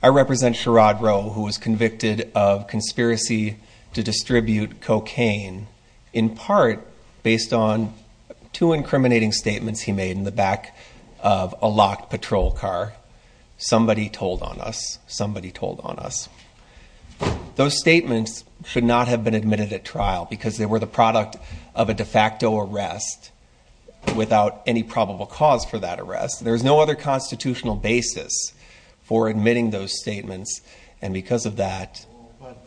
I represent Sharrod Rowe who was convicted of conspiracy to distribute cocaine in part based on two incriminating statements he made in the back of a locked patrol car. Somebody told on us, somebody told on us. Those statements should not have been admitted at trial because they were the product of a de facto arrest without any probable cause for that arrest. There's no other constitutional basis for admitting those statements and because of that. But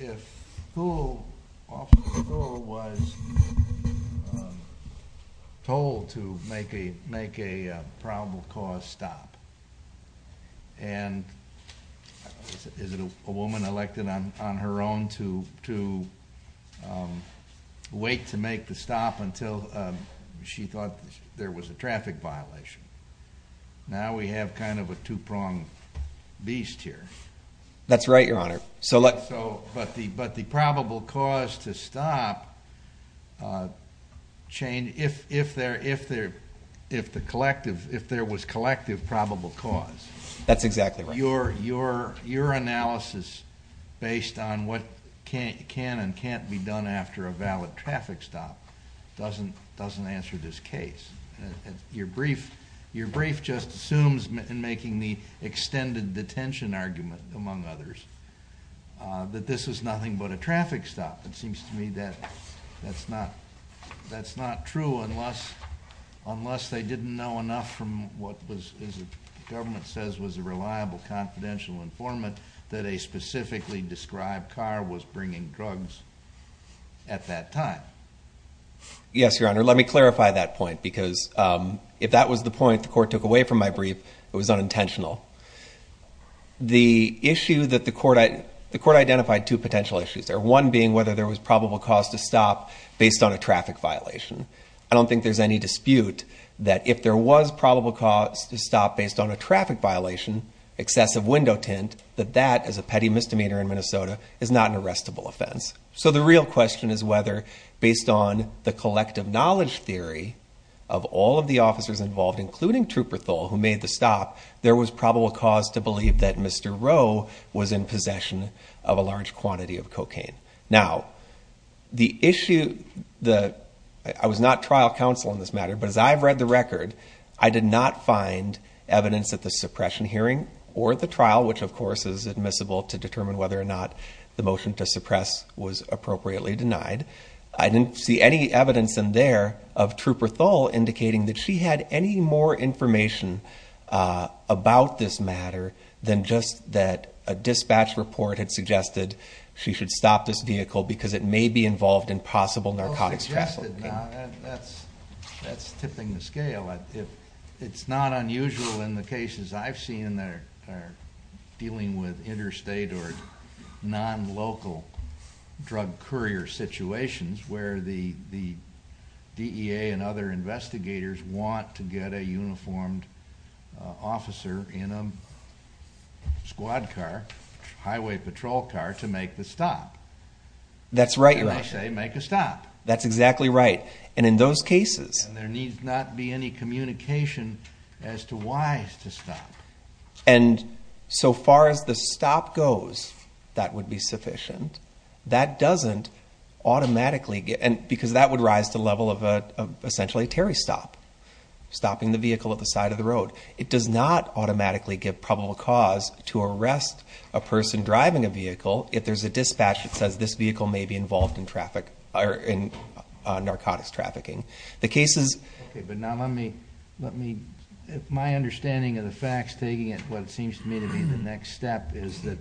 if who was told to make a probable cause stop and is it a woman elected on her own to wait to make the stop until she thought there was a traffic violation. Now we have kind of a two-pronged beast here. That's right your honor. So let's go but the but the probable cause to stop chain if if there if there if the collective if there was collective probable cause. That's exactly right. Your your your analysis based on what can can and can't be done after a valid traffic stop doesn't doesn't answer this case. Your brief your brief just assumes in making the extended detention argument among others that this is nothing but a traffic stop. It seems to me that that's not that's not true unless unless they didn't know enough from what was as the government says was a reliable confidential informant that a at that time. Yes your honor let me clarify that point because if that was the point the court took away from my brief it was unintentional. The issue that the court I the court identified two potential issues there. One being whether there was probable cause to stop based on a traffic violation. I don't think there's any dispute that if there was probable cause to stop based on a traffic violation excessive window tint that that as a petty misdemeanor in Minnesota is not an arrestable offense. So the real question is whether based on the collective knowledge theory of all of the officers involved including Trooper Thole who made the stop there was probable cause to believe that Mr. Rowe was in possession of a large quantity of cocaine. Now the issue the I was not trial counsel in this matter but as I've read the record I did not find evidence that the suppression hearing or the trial which of course is admissible to determine whether or not the motion to suppress was appropriately denied. I didn't see any evidence in there of Trooper Thole indicating that she had any more information about this matter than just that a dispatch report had suggested she should stop this vehicle because it may be involved in possible narcotics. That's that's tipping the cases I've seen that are dealing with interstate or non-local drug courier situations where the DEA and other investigators want to get a uniformed officer in a squad car, highway patrol car to make the stop. That's right you're right. They say make a stop. That's exactly right and in those cases there needs not be any communication as to why to stop and so far as the stop goes that would be sufficient. That doesn't automatically get and because that would rise to the level of a essentially a Terry stop, stopping the vehicle at the side of the road. It does not automatically give probable cause to arrest a person driving a vehicle if there's a dispatch that says this vehicle may be involved in traffic or in narcotics trafficking. The case is okay but now let me let me my understanding of the facts taking it what it seems to me to be the next step is that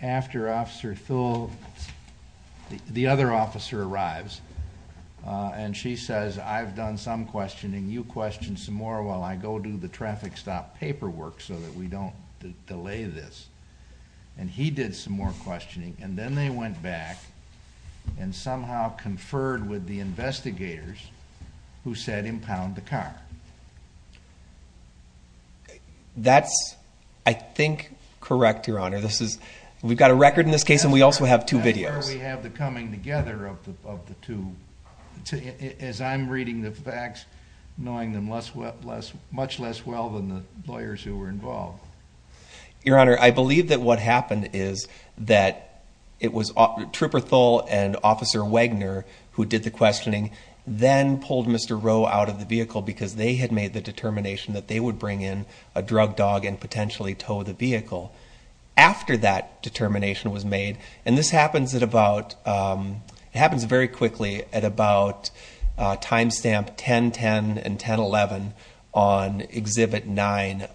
after Officer Thole, the other officer arrives and she says I've done some questioning you question some more while I go do the traffic stop paperwork so that we don't delay this and he did some more questioning and then they went back and somehow conferred with the investigators who said impound the car. That's I think correct your honor this is we've got a record in this case and we also have two videos. That's where we have the coming together of the of the two as I'm reading the facts knowing them less well less much less well than the lawyers who were involved. Your honor I believe that what happened is that it was Trooper Thole and Officer Wagner who did the questioning then pulled Mr. Rowe out of the vehicle because they had made the determination that they would bring in a drug dog and potentially tow the vehicle. After that determination was made and this happens at about it happens very quickly at about time stamp 10 10 and 10 11 on exhibit 9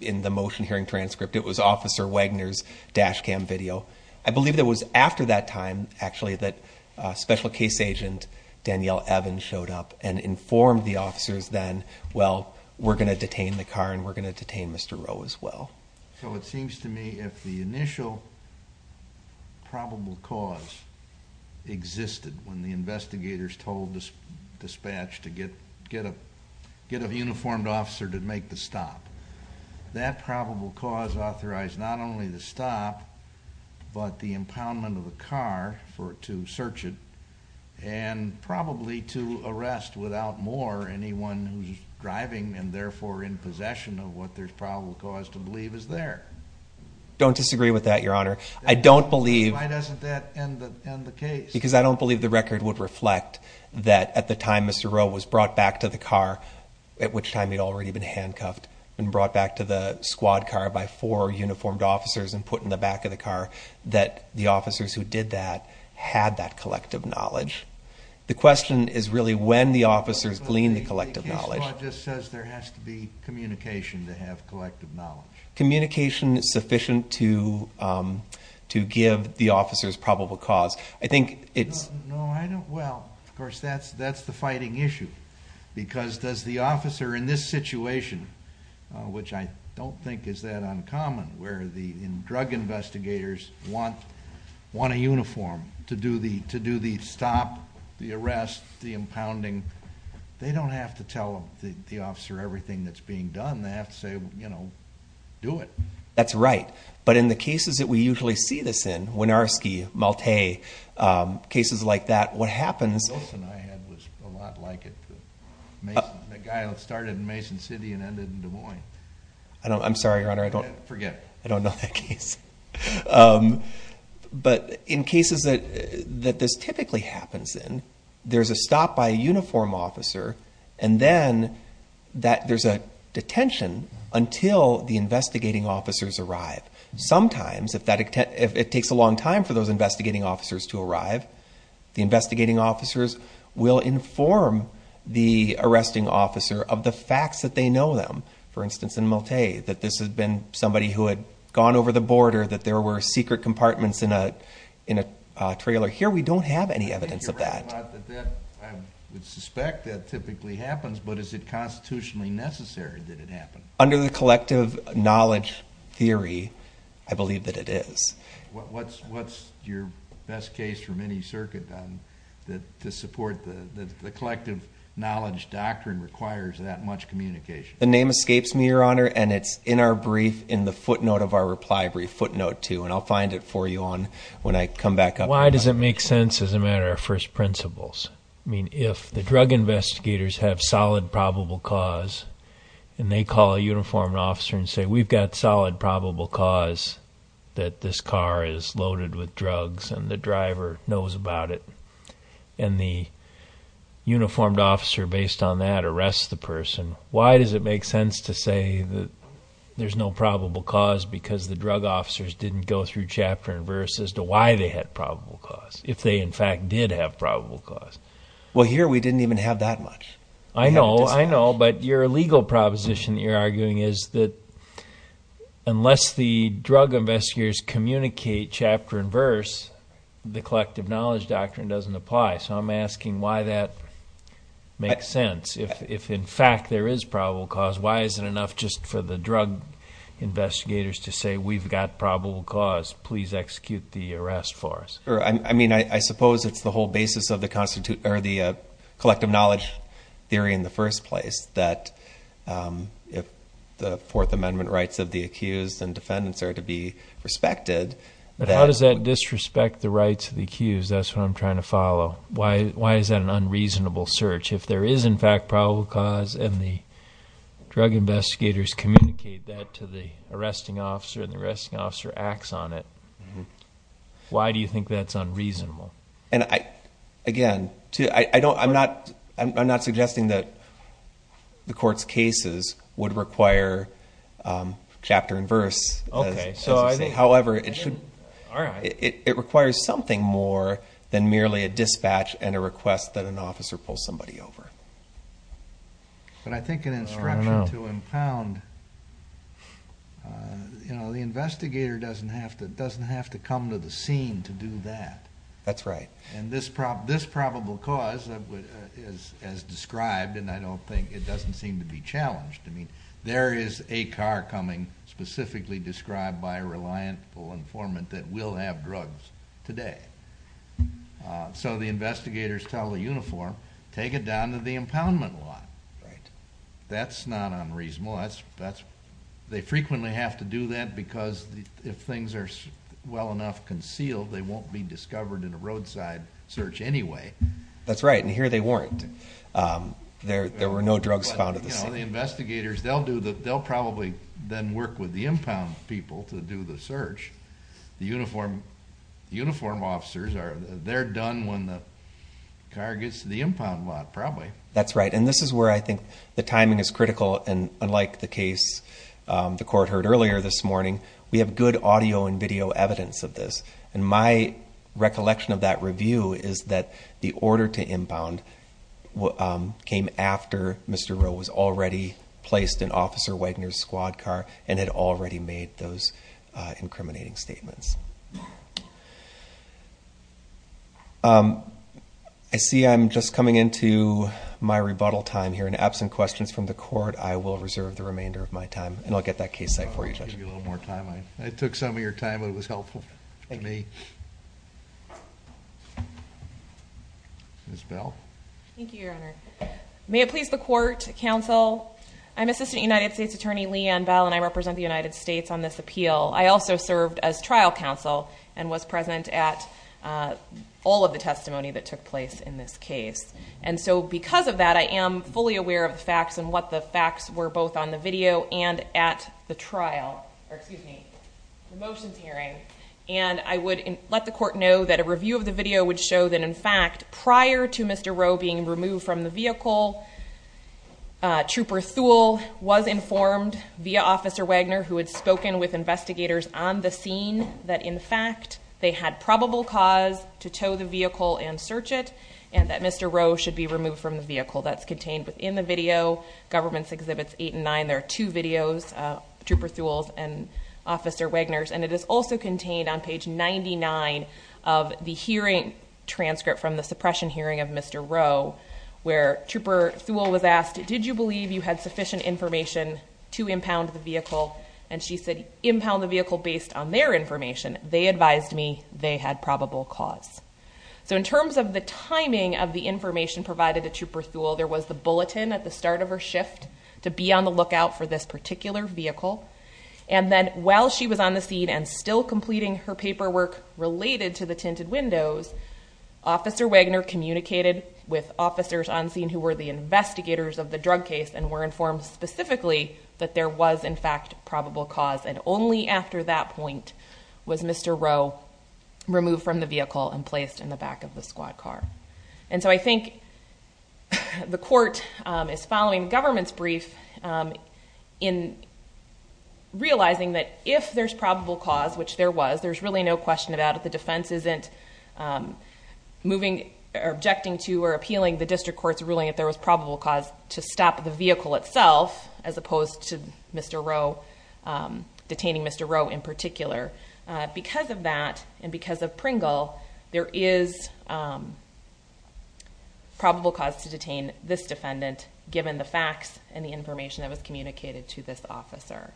in the motion hearing transcript it was Officer Wagner's dash cam video. I believe it was after that time actually that special case agent Danielle Evans showed up and informed the officers then well we're going to detain the car and we're going to detain Mr. Rowe as well. So it seems to me if the initial probable cause existed when the investigators told this dispatch to get get a get a probable cause authorized not only the stop but the impoundment of the car for to search it and probably to arrest without more anyone who's driving and therefore in possession of what there's probable cause to believe is there. Don't disagree with that your honor. I don't believe Why doesn't that end the case? Because I don't believe the record would reflect that at the time Mr. Rowe was brought back to the car at which time he'd already been handcuffed and brought back to the squad car by four uniformed officers and put in the back of the car that the officers who did that had that collective knowledge. The question is really when the officers glean the collective knowledge just says there has to be communication to have collective knowledge. Communication is sufficient to to give the officers probable cause. I think it's no I don't well of course that's that's the fighting issue because does the officer in this situation which I don't think is that uncommon where the drug investigators want want a uniform to do the to do the stop the arrest the impounding they don't have to tell the officer everything that's being done they have to say you know do it. That's right but in the cases that we usually see this in Winarski, Malta, cases like that what happens. Wilson I had was a lot like it. The guy that started in Mason City and ended in Des Moines. I don't I'm sorry your honor I don't forget I don't know that case but in cases that that this typically happens in there's a stop by a uniform officer and then that there's a detention until the investigating officers arrive. Sometimes if that if it takes a long time for those investigating officers to arrive the investigating officers will inform the arresting officer of the facts that they know them. For instance in Malta that this has been somebody who had gone over the border that there were secret compartments in a in a trailer. Here we don't have any evidence of that. I would suspect that typically happens but is it constitutionally necessary that it happened? Under the collective knowledge theory I believe that it is. What's what's your best case from any circuit then that to support the the collective knowledge doctrine requires that much communication? The name escapes me your honor and it's in our brief in the footnote of our reply brief footnote two and I'll find it for you on when I come back up. Why does it make sense as a matter of first I mean if the drug investigators have solid probable cause and they call a uniformed officer and say we've got solid probable cause that this car is loaded with drugs and the driver knows about it and the uniformed officer based on that arrests the person why does it make sense to say that there's no probable cause because the drug officers didn't go through chapter and verse as to why they had probable cause if they in fact did have probable cause. Well here we didn't even have that much. I know I know but your legal proposition you're arguing is that unless the drug investigators communicate chapter and verse the collective knowledge doctrine doesn't apply so I'm asking why that makes sense if if in fact there is probable cause why is it enough just for the drug investigators to say we've got probable cause please execute the arrest for us. I mean I suppose it's the whole basis of the constitute or the collective knowledge theory in the first place that if the fourth amendment rights of the accused and defendants are to be respected. But how does that disrespect the rights of the accused that's what I'm trying to follow why why is that an unreasonable search if there is in fact probable cause and the drug investigators communicate that to the arresting officer and the arresting officer acts on it why do you think that's unreasonable? And I again to I don't I'm not I'm not suggesting that the court's cases would require chapter and verse okay so I think however it should all right it requires something more than merely a dispatch and a request that an officer pulls somebody over. But I think an instruction to impound you know the investigator doesn't have to doesn't have to come to the scene to do that. That's right. And this prop this probable cause is as described and I don't think it doesn't seem to be challenged I mean there is a car coming specifically described by a reliable informant that will have drugs today so the investigators tell the uniform take it down to the impoundment lot right that's not unreasonable that's that's they frequently have to do that because if things are well enough concealed they won't be discovered in a roadside search anyway. That's right and here they weren't there there were no drugs found at the scene. You know the investigators they'll do the impound people to do the search the uniform uniform officers are they're done when the car gets to the impound lot probably. That's right and this is where I think the timing is critical and unlike the case the court heard earlier this morning we have good audio and video evidence of this and my recollection of that review is that the order to impound what came after Mr. Rowe was already placed in Officer Wagner's squad car and had already made those incriminating statements. I see I'm just coming into my rebuttal time here in absent questions from the court I will reserve the remainder of my time and I'll get that case site for you. I'll give you a little thank you your honor may it please the court counsel I'm assistant United States attorney Leanne Bell and I represent the United States on this appeal I also served as trial counsel and was present at all of the testimony that took place in this case and so because of that I am fully aware of the facts and what the facts were both on the video and at the trial or excuse me the motions hearing and I would let the court know that a review of the video would show that in fact prior to Mr. Rowe being removed from the vehicle Trooper Thule was informed via Officer Wagner who had spoken with investigators on the scene that in fact they had probable cause to tow the vehicle and search it and that Mr. Rowe should be removed from the vehicle that's contained within the video government's exhibits eight and nine there are two videos Trooper Thule's and Officer Wagner's and it is also contained on page 99 of the hearing transcript from the suppression hearing of Mr. Rowe where Trooper Thule was asked did you believe you had sufficient information to impound the vehicle and she said impound the vehicle based on their information they advised me they had probable cause so in terms of the timing of the information provided to Trooper Thule there was the bulletin at the start of her shift to be on the lookout for this particular vehicle and then while she was on the scene and still completing her paperwork related to the tinted windows Officer Wagner communicated with officers on scene who were the investigators of the drug case and were informed specifically that there was in fact probable cause and only after that point was Mr. Rowe removed from the vehicle and placed in the back of the squad car and so I think the court is following government's brief in realizing that if there's probable cause which there was there's really no question about it the defense isn't moving or objecting to or appealing the district court's ruling if there was probable cause to stop the vehicle itself as opposed to Mr. Rowe detaining Mr. Rowe in particular because of that and because of Pringle there is probable cause to detain this defendant given the facts and the information that was communicated to this officer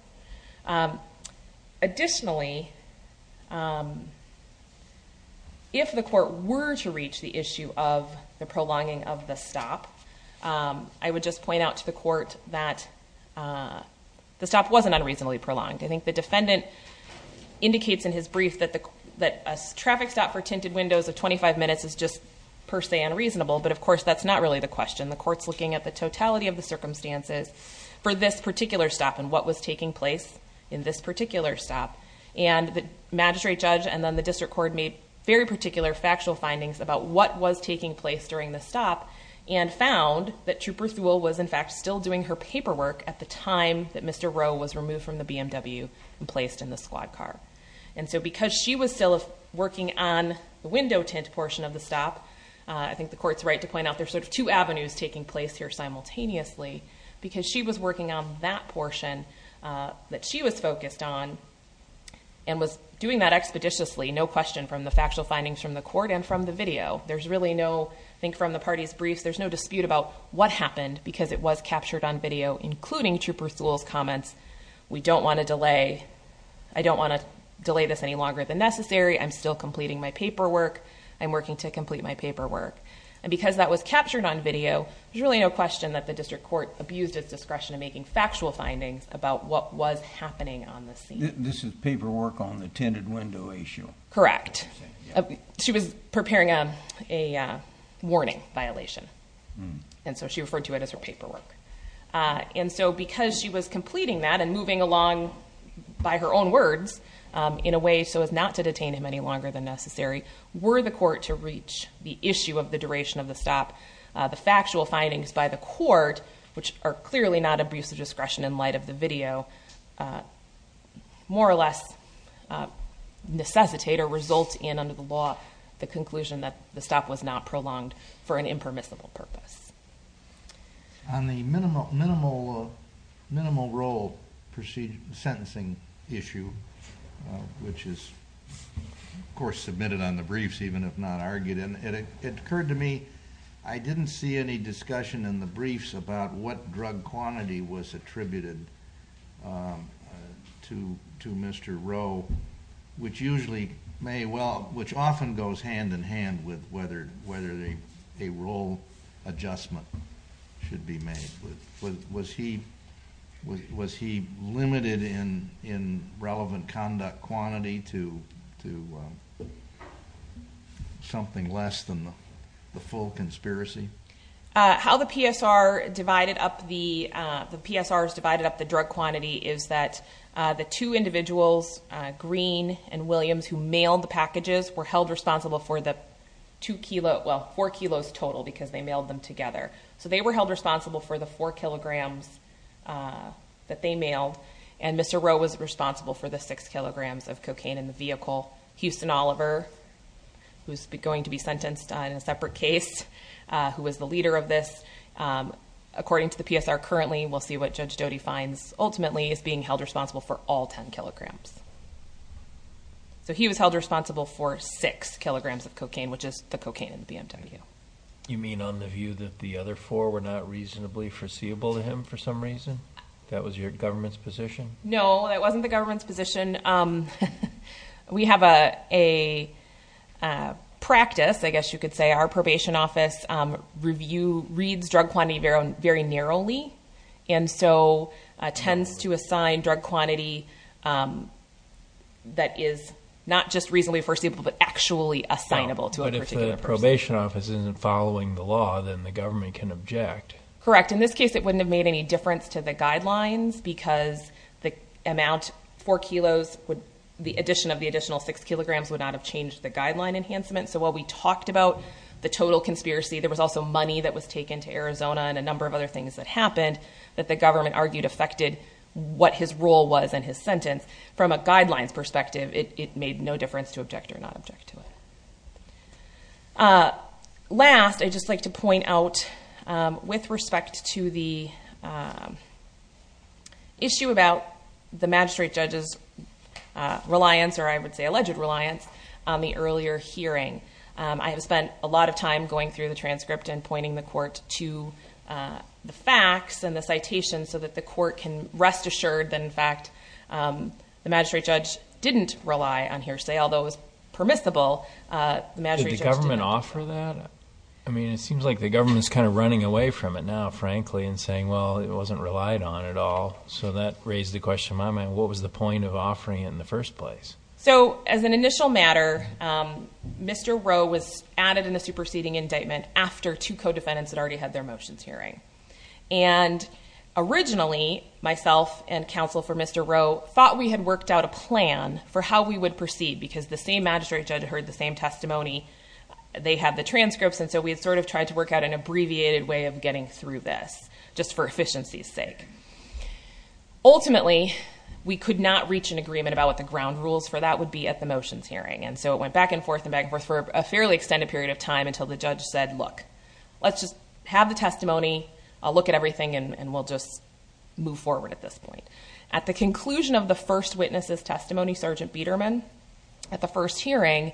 additionally if the court were to reach the issue of the prolonging of the stop I would just point out to the court that the stop wasn't unreasonably prolonged I think the defendant indicates in his brief that the that a traffic stop for tinted windows of 25 minutes is just per se unreasonable but of course that's not really the question the court's looking at the totality of the circumstances for this particular stop and what was taking place in this particular stop and the magistrate judge and then the district court made very particular factual findings about what was taking place during the stop and found that Trooper Thule was in fact still doing her paperwork at the time that Mr. Rowe was removed from the BMW and placed in the squad car and so because she was still working on the window tint portion of the stop I think the court's right to point out there's sort of two avenues taking place here simultaneously because she was working on that portion that she was focused on and was doing that expeditiously no question from the factual findings from the court and from the video there's really no I think from the party's briefs there's no dispute about what happened because it was captured on video including Trooper Thule's we don't want to delay I don't want to delay this any longer than necessary I'm still completing my paperwork I'm working to complete my paperwork and because that was captured on video there's really no question that the district court abused its discretion in making factual findings about what was happening on the scene this is paperwork on the tinted window issue correct she was preparing a a warning violation and so she referred to it as her paperwork and so because she was completing that and moving along by her own words in a way so as not to detain him any longer than necessary were the court to reach the issue of the duration of the stop the factual findings by the court which are clearly not abuse of discretion in light of the video more or less necessitate or result in under the law the conclusion that the stop was not minimal role procedure sentencing issue which is of course submitted on the briefs even if not argued in it occurred to me I didn't see any discussion in the briefs about what drug quantity was attributed to to Mr. Rowe which usually may well which often goes hand in hand with whether whether they a role adjustment should be made with was he was he limited in in relevant conduct quantity to to something less than the full conspiracy how the PSR divided up the the PSRs divided up the drug quantity is that the two individuals Green and Williams who mailed the well four kilos total because they mailed them together so they were held responsible for the four kilograms that they mailed and Mr. Rowe was responsible for the six kilograms of cocaine in the vehicle Houston Oliver who's going to be sentenced on a separate case who was the leader of this according to the PSR currently we'll see what Judge Doty finds ultimately is being held responsible for all ten kilograms so he was held responsible for six kilograms of cocaine which is the cocaine in the BMW you mean on the view that the other four were not reasonably foreseeable to him for some reason that was your government's position no that wasn't the government's position we have a a practice I guess you could say our probation office review reads drug quantity very very narrowly and so tends to assign drug quantity that is not just reasonably foreseeable but actually assignable to it if the probation office isn't following the law then the government can object correct in this case it wouldn't have made any difference to the guidelines because the amount four kilos would the addition of the additional six kilograms would not have changed the guideline enhancement so while we talked about the total conspiracy there was also money that was taken to Arizona and a number of other things that happened that the government argued affected what his role was in his sentence from a guidelines perspective it made no difference to object or not object to it last I just like to point out with respect to the issue about the magistrate judge's reliance or I would say alleged reliance on the earlier hearing I have spent a lot of time going through the transcript and pointing the court to the facts and the citation so that the court can rest assured that in fact the magistrate judge didn't rely on hearsay although it was permissible the government offer that I mean it seems like the government's kind of running away from it now frankly and saying well it wasn't relied on at all so that raised the question in my mind what was the point of offering it in the first place so as an initial matter Mr. Rowe was added in the superseding indictment after two co-defendants had already had their motions hearing and originally myself and counsel for Mr. Rowe thought we had worked out a plan for how we would proceed because the same magistrate judge heard the same testimony they had the transcripts and so we had sort of tried to work out an abbreviated way of getting through this just for efficiencies sake ultimately we could not reach an agreement about what the ground rules for that would be at the motions hearing and so it went back and forth and back and forth for a fairly extended period of time until the judge said look let's just have the testimony I'll look at everything and we'll just move forward at this point at the conclusion of the first witness's testimony sergeant Biederman at the first hearing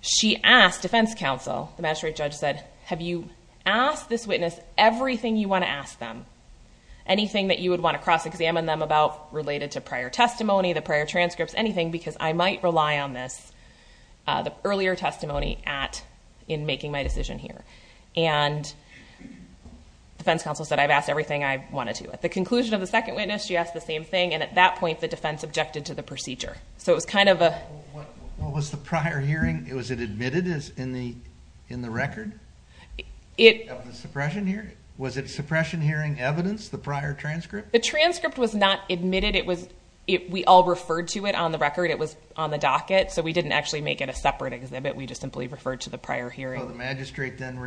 she asked defense counsel the magistrate judge said have you asked this witness everything you want to ask them anything that you would want to cross-examine them about related to prior testimony the prior transcripts anything because I might have had prior testimony at in making my decision here and defense counsel said I've asked everything I wanted to at the conclusion of the second witness she asked the same thing and at that point the defense objected to the procedure so it was kind of a what was the prior hearing it was it admitted as in the in the record it suppression here was it suppression hearing evidence the prior transcript the transcript was not admitted it was it we all referred to it on the record it was on the docket so we didn't actually make it a separate exhibit we just simply referred to the prior hearing the magistrate then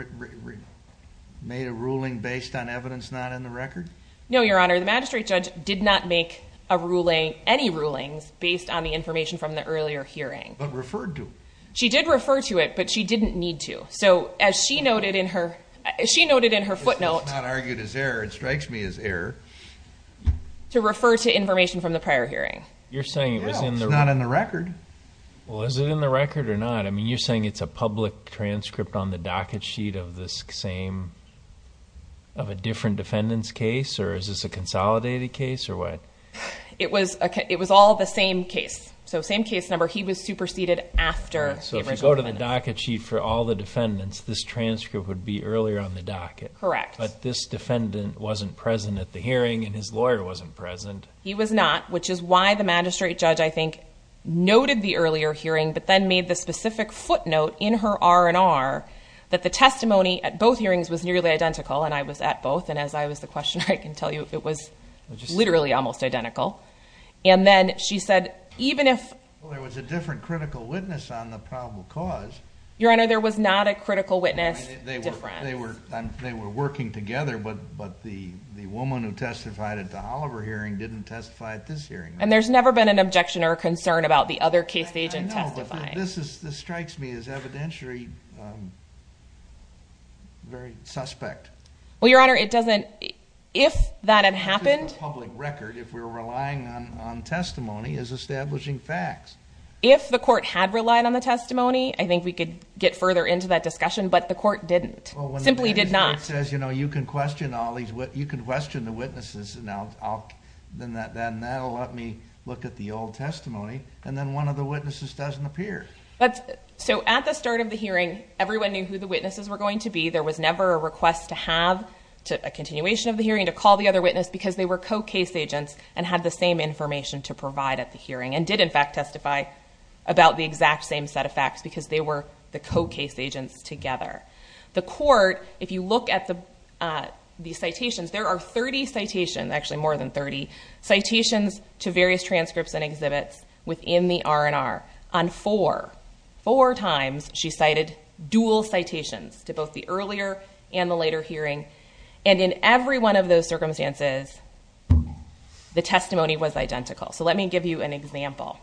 made a ruling based on evidence not in the record no your honor the magistrate judge did not make a ruling any rulings based on the information from the earlier hearing but referred to she did refer to it but she didn't need to so as she noted in her as she noted in her footnote not argued as error it strikes me as error to refer to information from the prior hearing you're saying it was not in the record well is it in the record or not I mean you're saying it's a public transcript on the docket sheet of this same of a different defendants case or is this a consolidated case or what it was okay it was all the same case so same case number he was superseded after so if you go to the docket sheet for all the defendants this transcript would be earlier on the docket correct but this defendant wasn't present at the hearing and his lawyer wasn't present he was not which is why the magistrate judge I think noted the earlier hearing but then made the specific footnote in her R&R that the testimony at both hearings was nearly identical and I was at both and as I was the question I can tell you it was literally almost identical and then she said even if there was a different critical witness on the probable cause your honor there was not a critical witness they were they were they were working together but but the the woman who testified at the Oliver hearing didn't testify at this hearing and there's never been an objection or concern about the other case agent testify this is this strikes me as evidentiary very suspect well your honor it doesn't if that had happened public record if we were relying on testimony is establishing facts if the court had relied on the testimony I think we could get further into that discussion but the court didn't simply did not says you know you can question all these what you can question the witnesses and I'll then that then that'll let me look at the old testimony and then one of the witnesses doesn't appear but so at the start of the hearing everyone knew who the witnesses were going to be there was never a request to have to a continuation of the hearing to call the other witness because they were co-case agents and had the same information to provide at the hearing and did in fact testify about the you look at the these citations there are 30 citations actually more than 30 citations to various transcripts and exhibits within the R&R on for four times she cited dual citations to both the earlier and the later hearing and in every one of those circumstances the testimony was identical so let me give you an example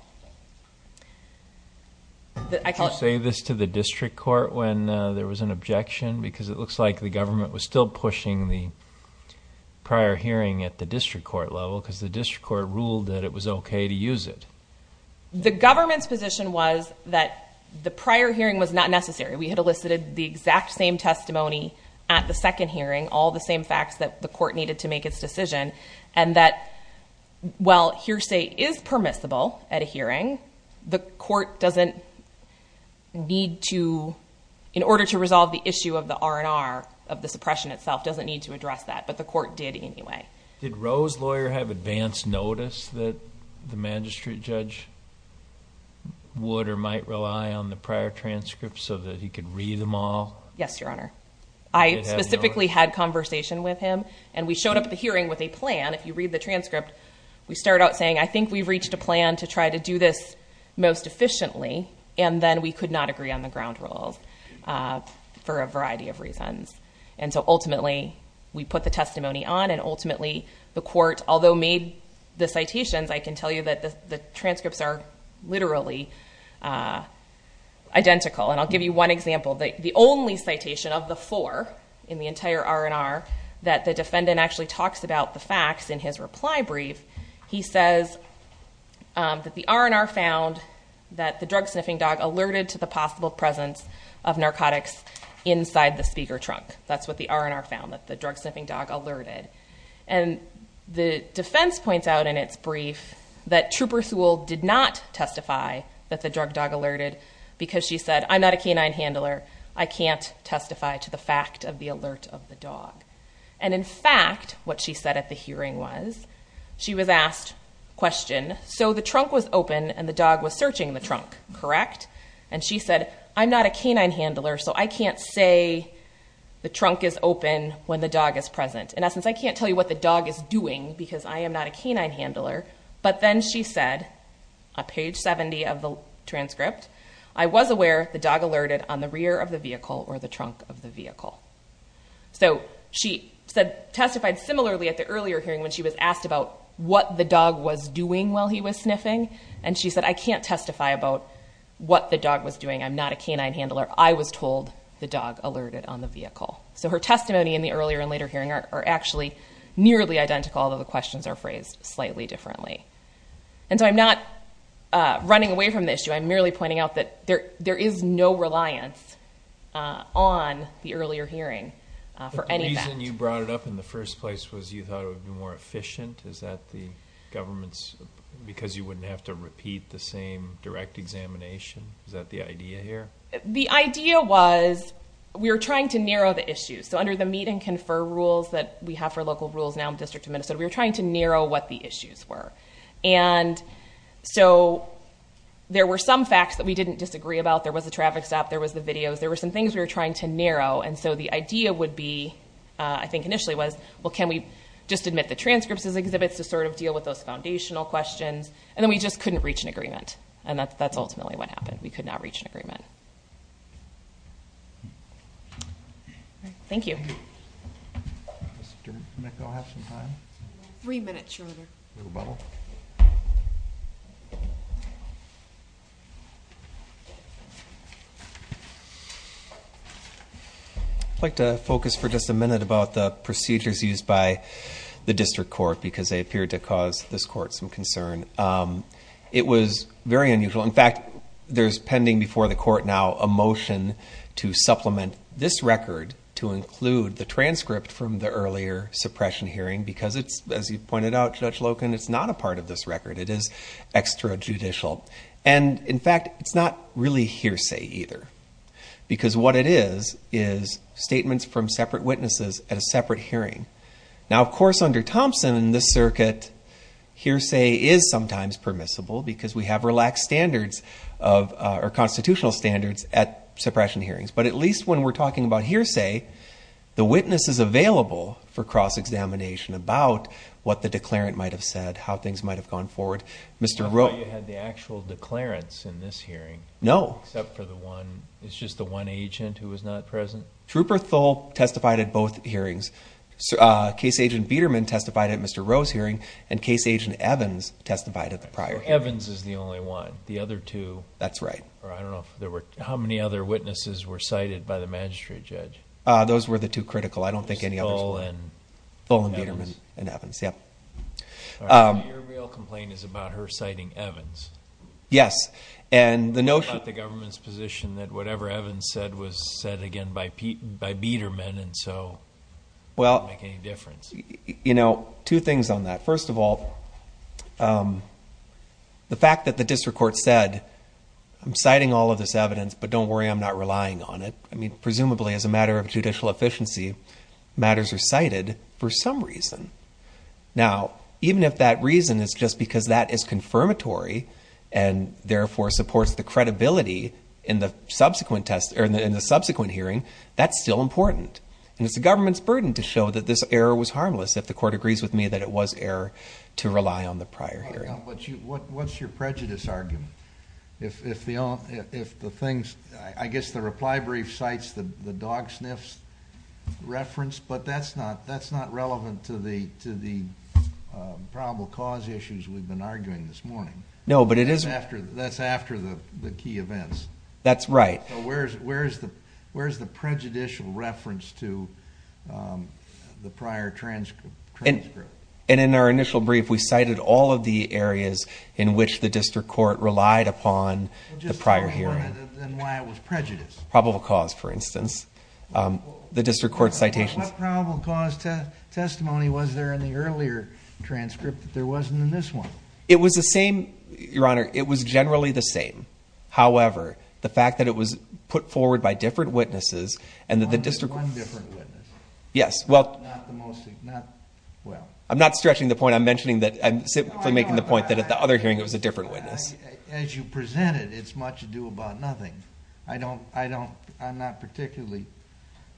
I call say this to the district court when there was an objection because it looks like the government was still pushing the prior hearing at the district court level because the district court ruled that it was okay to use it the government's position was that the prior hearing was not necessary we had elicited the exact same testimony at the second hearing all the same facts that the court needed to make its decision and that well hearsay is permissible at a hearing the court doesn't need to in order to resolve the issue of the R&R of the suppression itself doesn't need to address that but the court did anyway did Rose lawyer have advanced notice that the magistrate judge would or might rely on the prior transcripts so that he could read them all yes your honor I specifically had conversation with him and we the hearing with a plan if you read the transcript we start out saying I think we've reached a plan to try to do this most efficiently and then we could not agree on the ground rules for a variety of reasons and so ultimately we put the testimony on and ultimately the court although made the citations I can tell you that the transcripts are literally identical and I'll give you one citation of the four in the entire R&R that the defendant actually talks about the facts in his reply brief he says that the R&R found that the drug sniffing dog alerted to the possible presence of narcotics inside the speaker trunk that's what the R&R found that the drug sniffing dog alerted and the defense points out in its brief that trooper Sewell did not testify that the drug dog alerted because she said I'm not a canine handler I can't testify to the fact of the alert of the dog and in fact what she said at the hearing was she was asked question so the trunk was open and the dog was searching the trunk correct and she said I'm not a canine handler so I can't say the trunk is open when the dog is present in essence I can't tell you what the dog is doing because I am a page 70 of the transcript I was aware the dog alerted on the rear of the vehicle or the trunk of the vehicle so she said testified similarly at the earlier hearing when she was asked about what the dog was doing while he was sniffing and she said I can't testify about what the dog was doing I'm not a canine handler I was told the dog alerted on the vehicle so her testimony in the earlier and later hearing are actually nearly identical although the questions are phrased slightly differently and so I'm not running away from the issue I'm merely pointing out that there there is no reliance on the earlier hearing for any reason you brought it up in the first place was you thought it would be more efficient is that the government's because you wouldn't have to repeat the same direct examination is that the idea here the idea was we were trying to narrow the issues so under the meat and confer rules that we have for local rules now in District of Minnesota we were trying to narrow what the issues were and so there were some facts that we didn't disagree about there was a traffic stop there was the videos there were some things we were trying to narrow and so the idea would be I think initially was well can we just admit the transcripts as exhibits to sort of deal with those foundational questions and then we just couldn't reach an agreement and that's ultimately what happened we could not reach an agreement thank you three minutes shorter like to focus for just a minute about the procedures used by the district court because they appeared to cause this court some concern it was very unusual in fact there's pending before the court now a motion to supplement this record to include the transcript from the pointed out judge Loken it's not a part of this record it is extra judicial and in fact it's not really hearsay either because what it is is statements from separate witnesses at a separate hearing now of course under Thompson in this circuit hearsay is sometimes permissible because we have relaxed standards of our constitutional standards at suppression hearings but at least when we're talking about hearsay the witness is available for cross-examination about what the declarant might have said how things might have gone forward mr. Rowe you had the actual declarants in this hearing no except for the one it's just the one agent who was not present trooper Thole testified at both hearings case agent Biederman testified at mr. Rose hearing and case agent Evans testified at the prior Evans is the only one the other two that's right or I don't know if there were how many other witnesses were cited by the magistrate judge those were the two critical I don't think any other ball and full and Biederman and Evans yep complain is about her citing Evans yes and the notion that the government's position that whatever Evans said was said again by Pete by Biederman and so well any difference you know two things on that first of all the fact that the evidence but don't worry I'm not relying on it I mean presumably as a matter of judicial efficiency matters are cited for some reason now even if that reason is just because that is confirmatory and therefore supports the credibility in the subsequent test or in the subsequent hearing that's still important and it's the government's burden to show that this error was harmless if the court agrees with me that it was error to rely on the prior what's your prejudice argument if the if the things I guess the reply brief cites the the dog sniffs reference but that's not that's not relevant to the to the probable cause issues we've been arguing this morning no but it is after that's after the the key events that's right where's where's the where's the prejudicial reference to the prior transcript and in our initial brief we cited all of the areas in which the district court relied upon the prior here probable cause for instance the district court citations testimony was there in the earlier transcript there wasn't in this one it was the same your honor it was generally the same however the fact that it was put forward by different witnesses and that the district yes well I'm not stretching the point I'm mentioning that I'm making the point that at the other hearing it was a different witness as you presented it's much to do about nothing I don't I don't I'm not particularly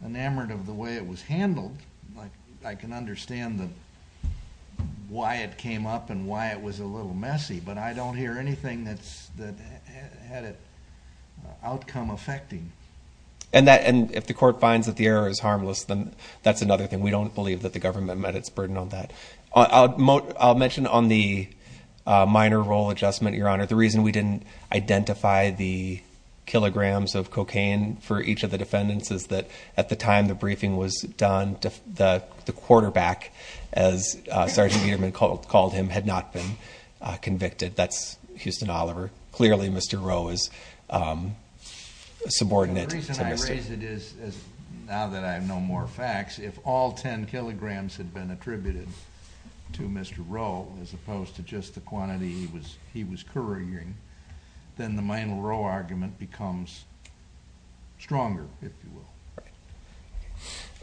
enamored of the way it was handled like I can understand them why it came up and why it was a little messy but I don't hear anything that's that had it outcome affecting and that and if the court finds that the error is harmless then that's another thing we don't believe that the government met its burden on that I'll moat I'll mention on the minor role adjustment your honor the reason we didn't identify the kilograms of cocaine for each of the defendants is that at the time the briefing was done to the quarterback as Sergeant Edelman called called him had not been convicted that's Houston Oliver clearly mr. Rowe is subordinate reason I raise it is now that I have no more facts if all ten kilograms had been to mr. Rowe as opposed to just the quantity he was he was couriering then the minor row argument becomes stronger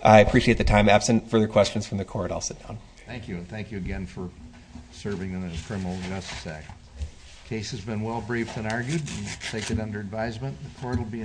I appreciate the time absent further questions from the court I'll sit down thank you and thank you again for serving in a criminal justice act case has been well briefed and argued take it under advisement the court will be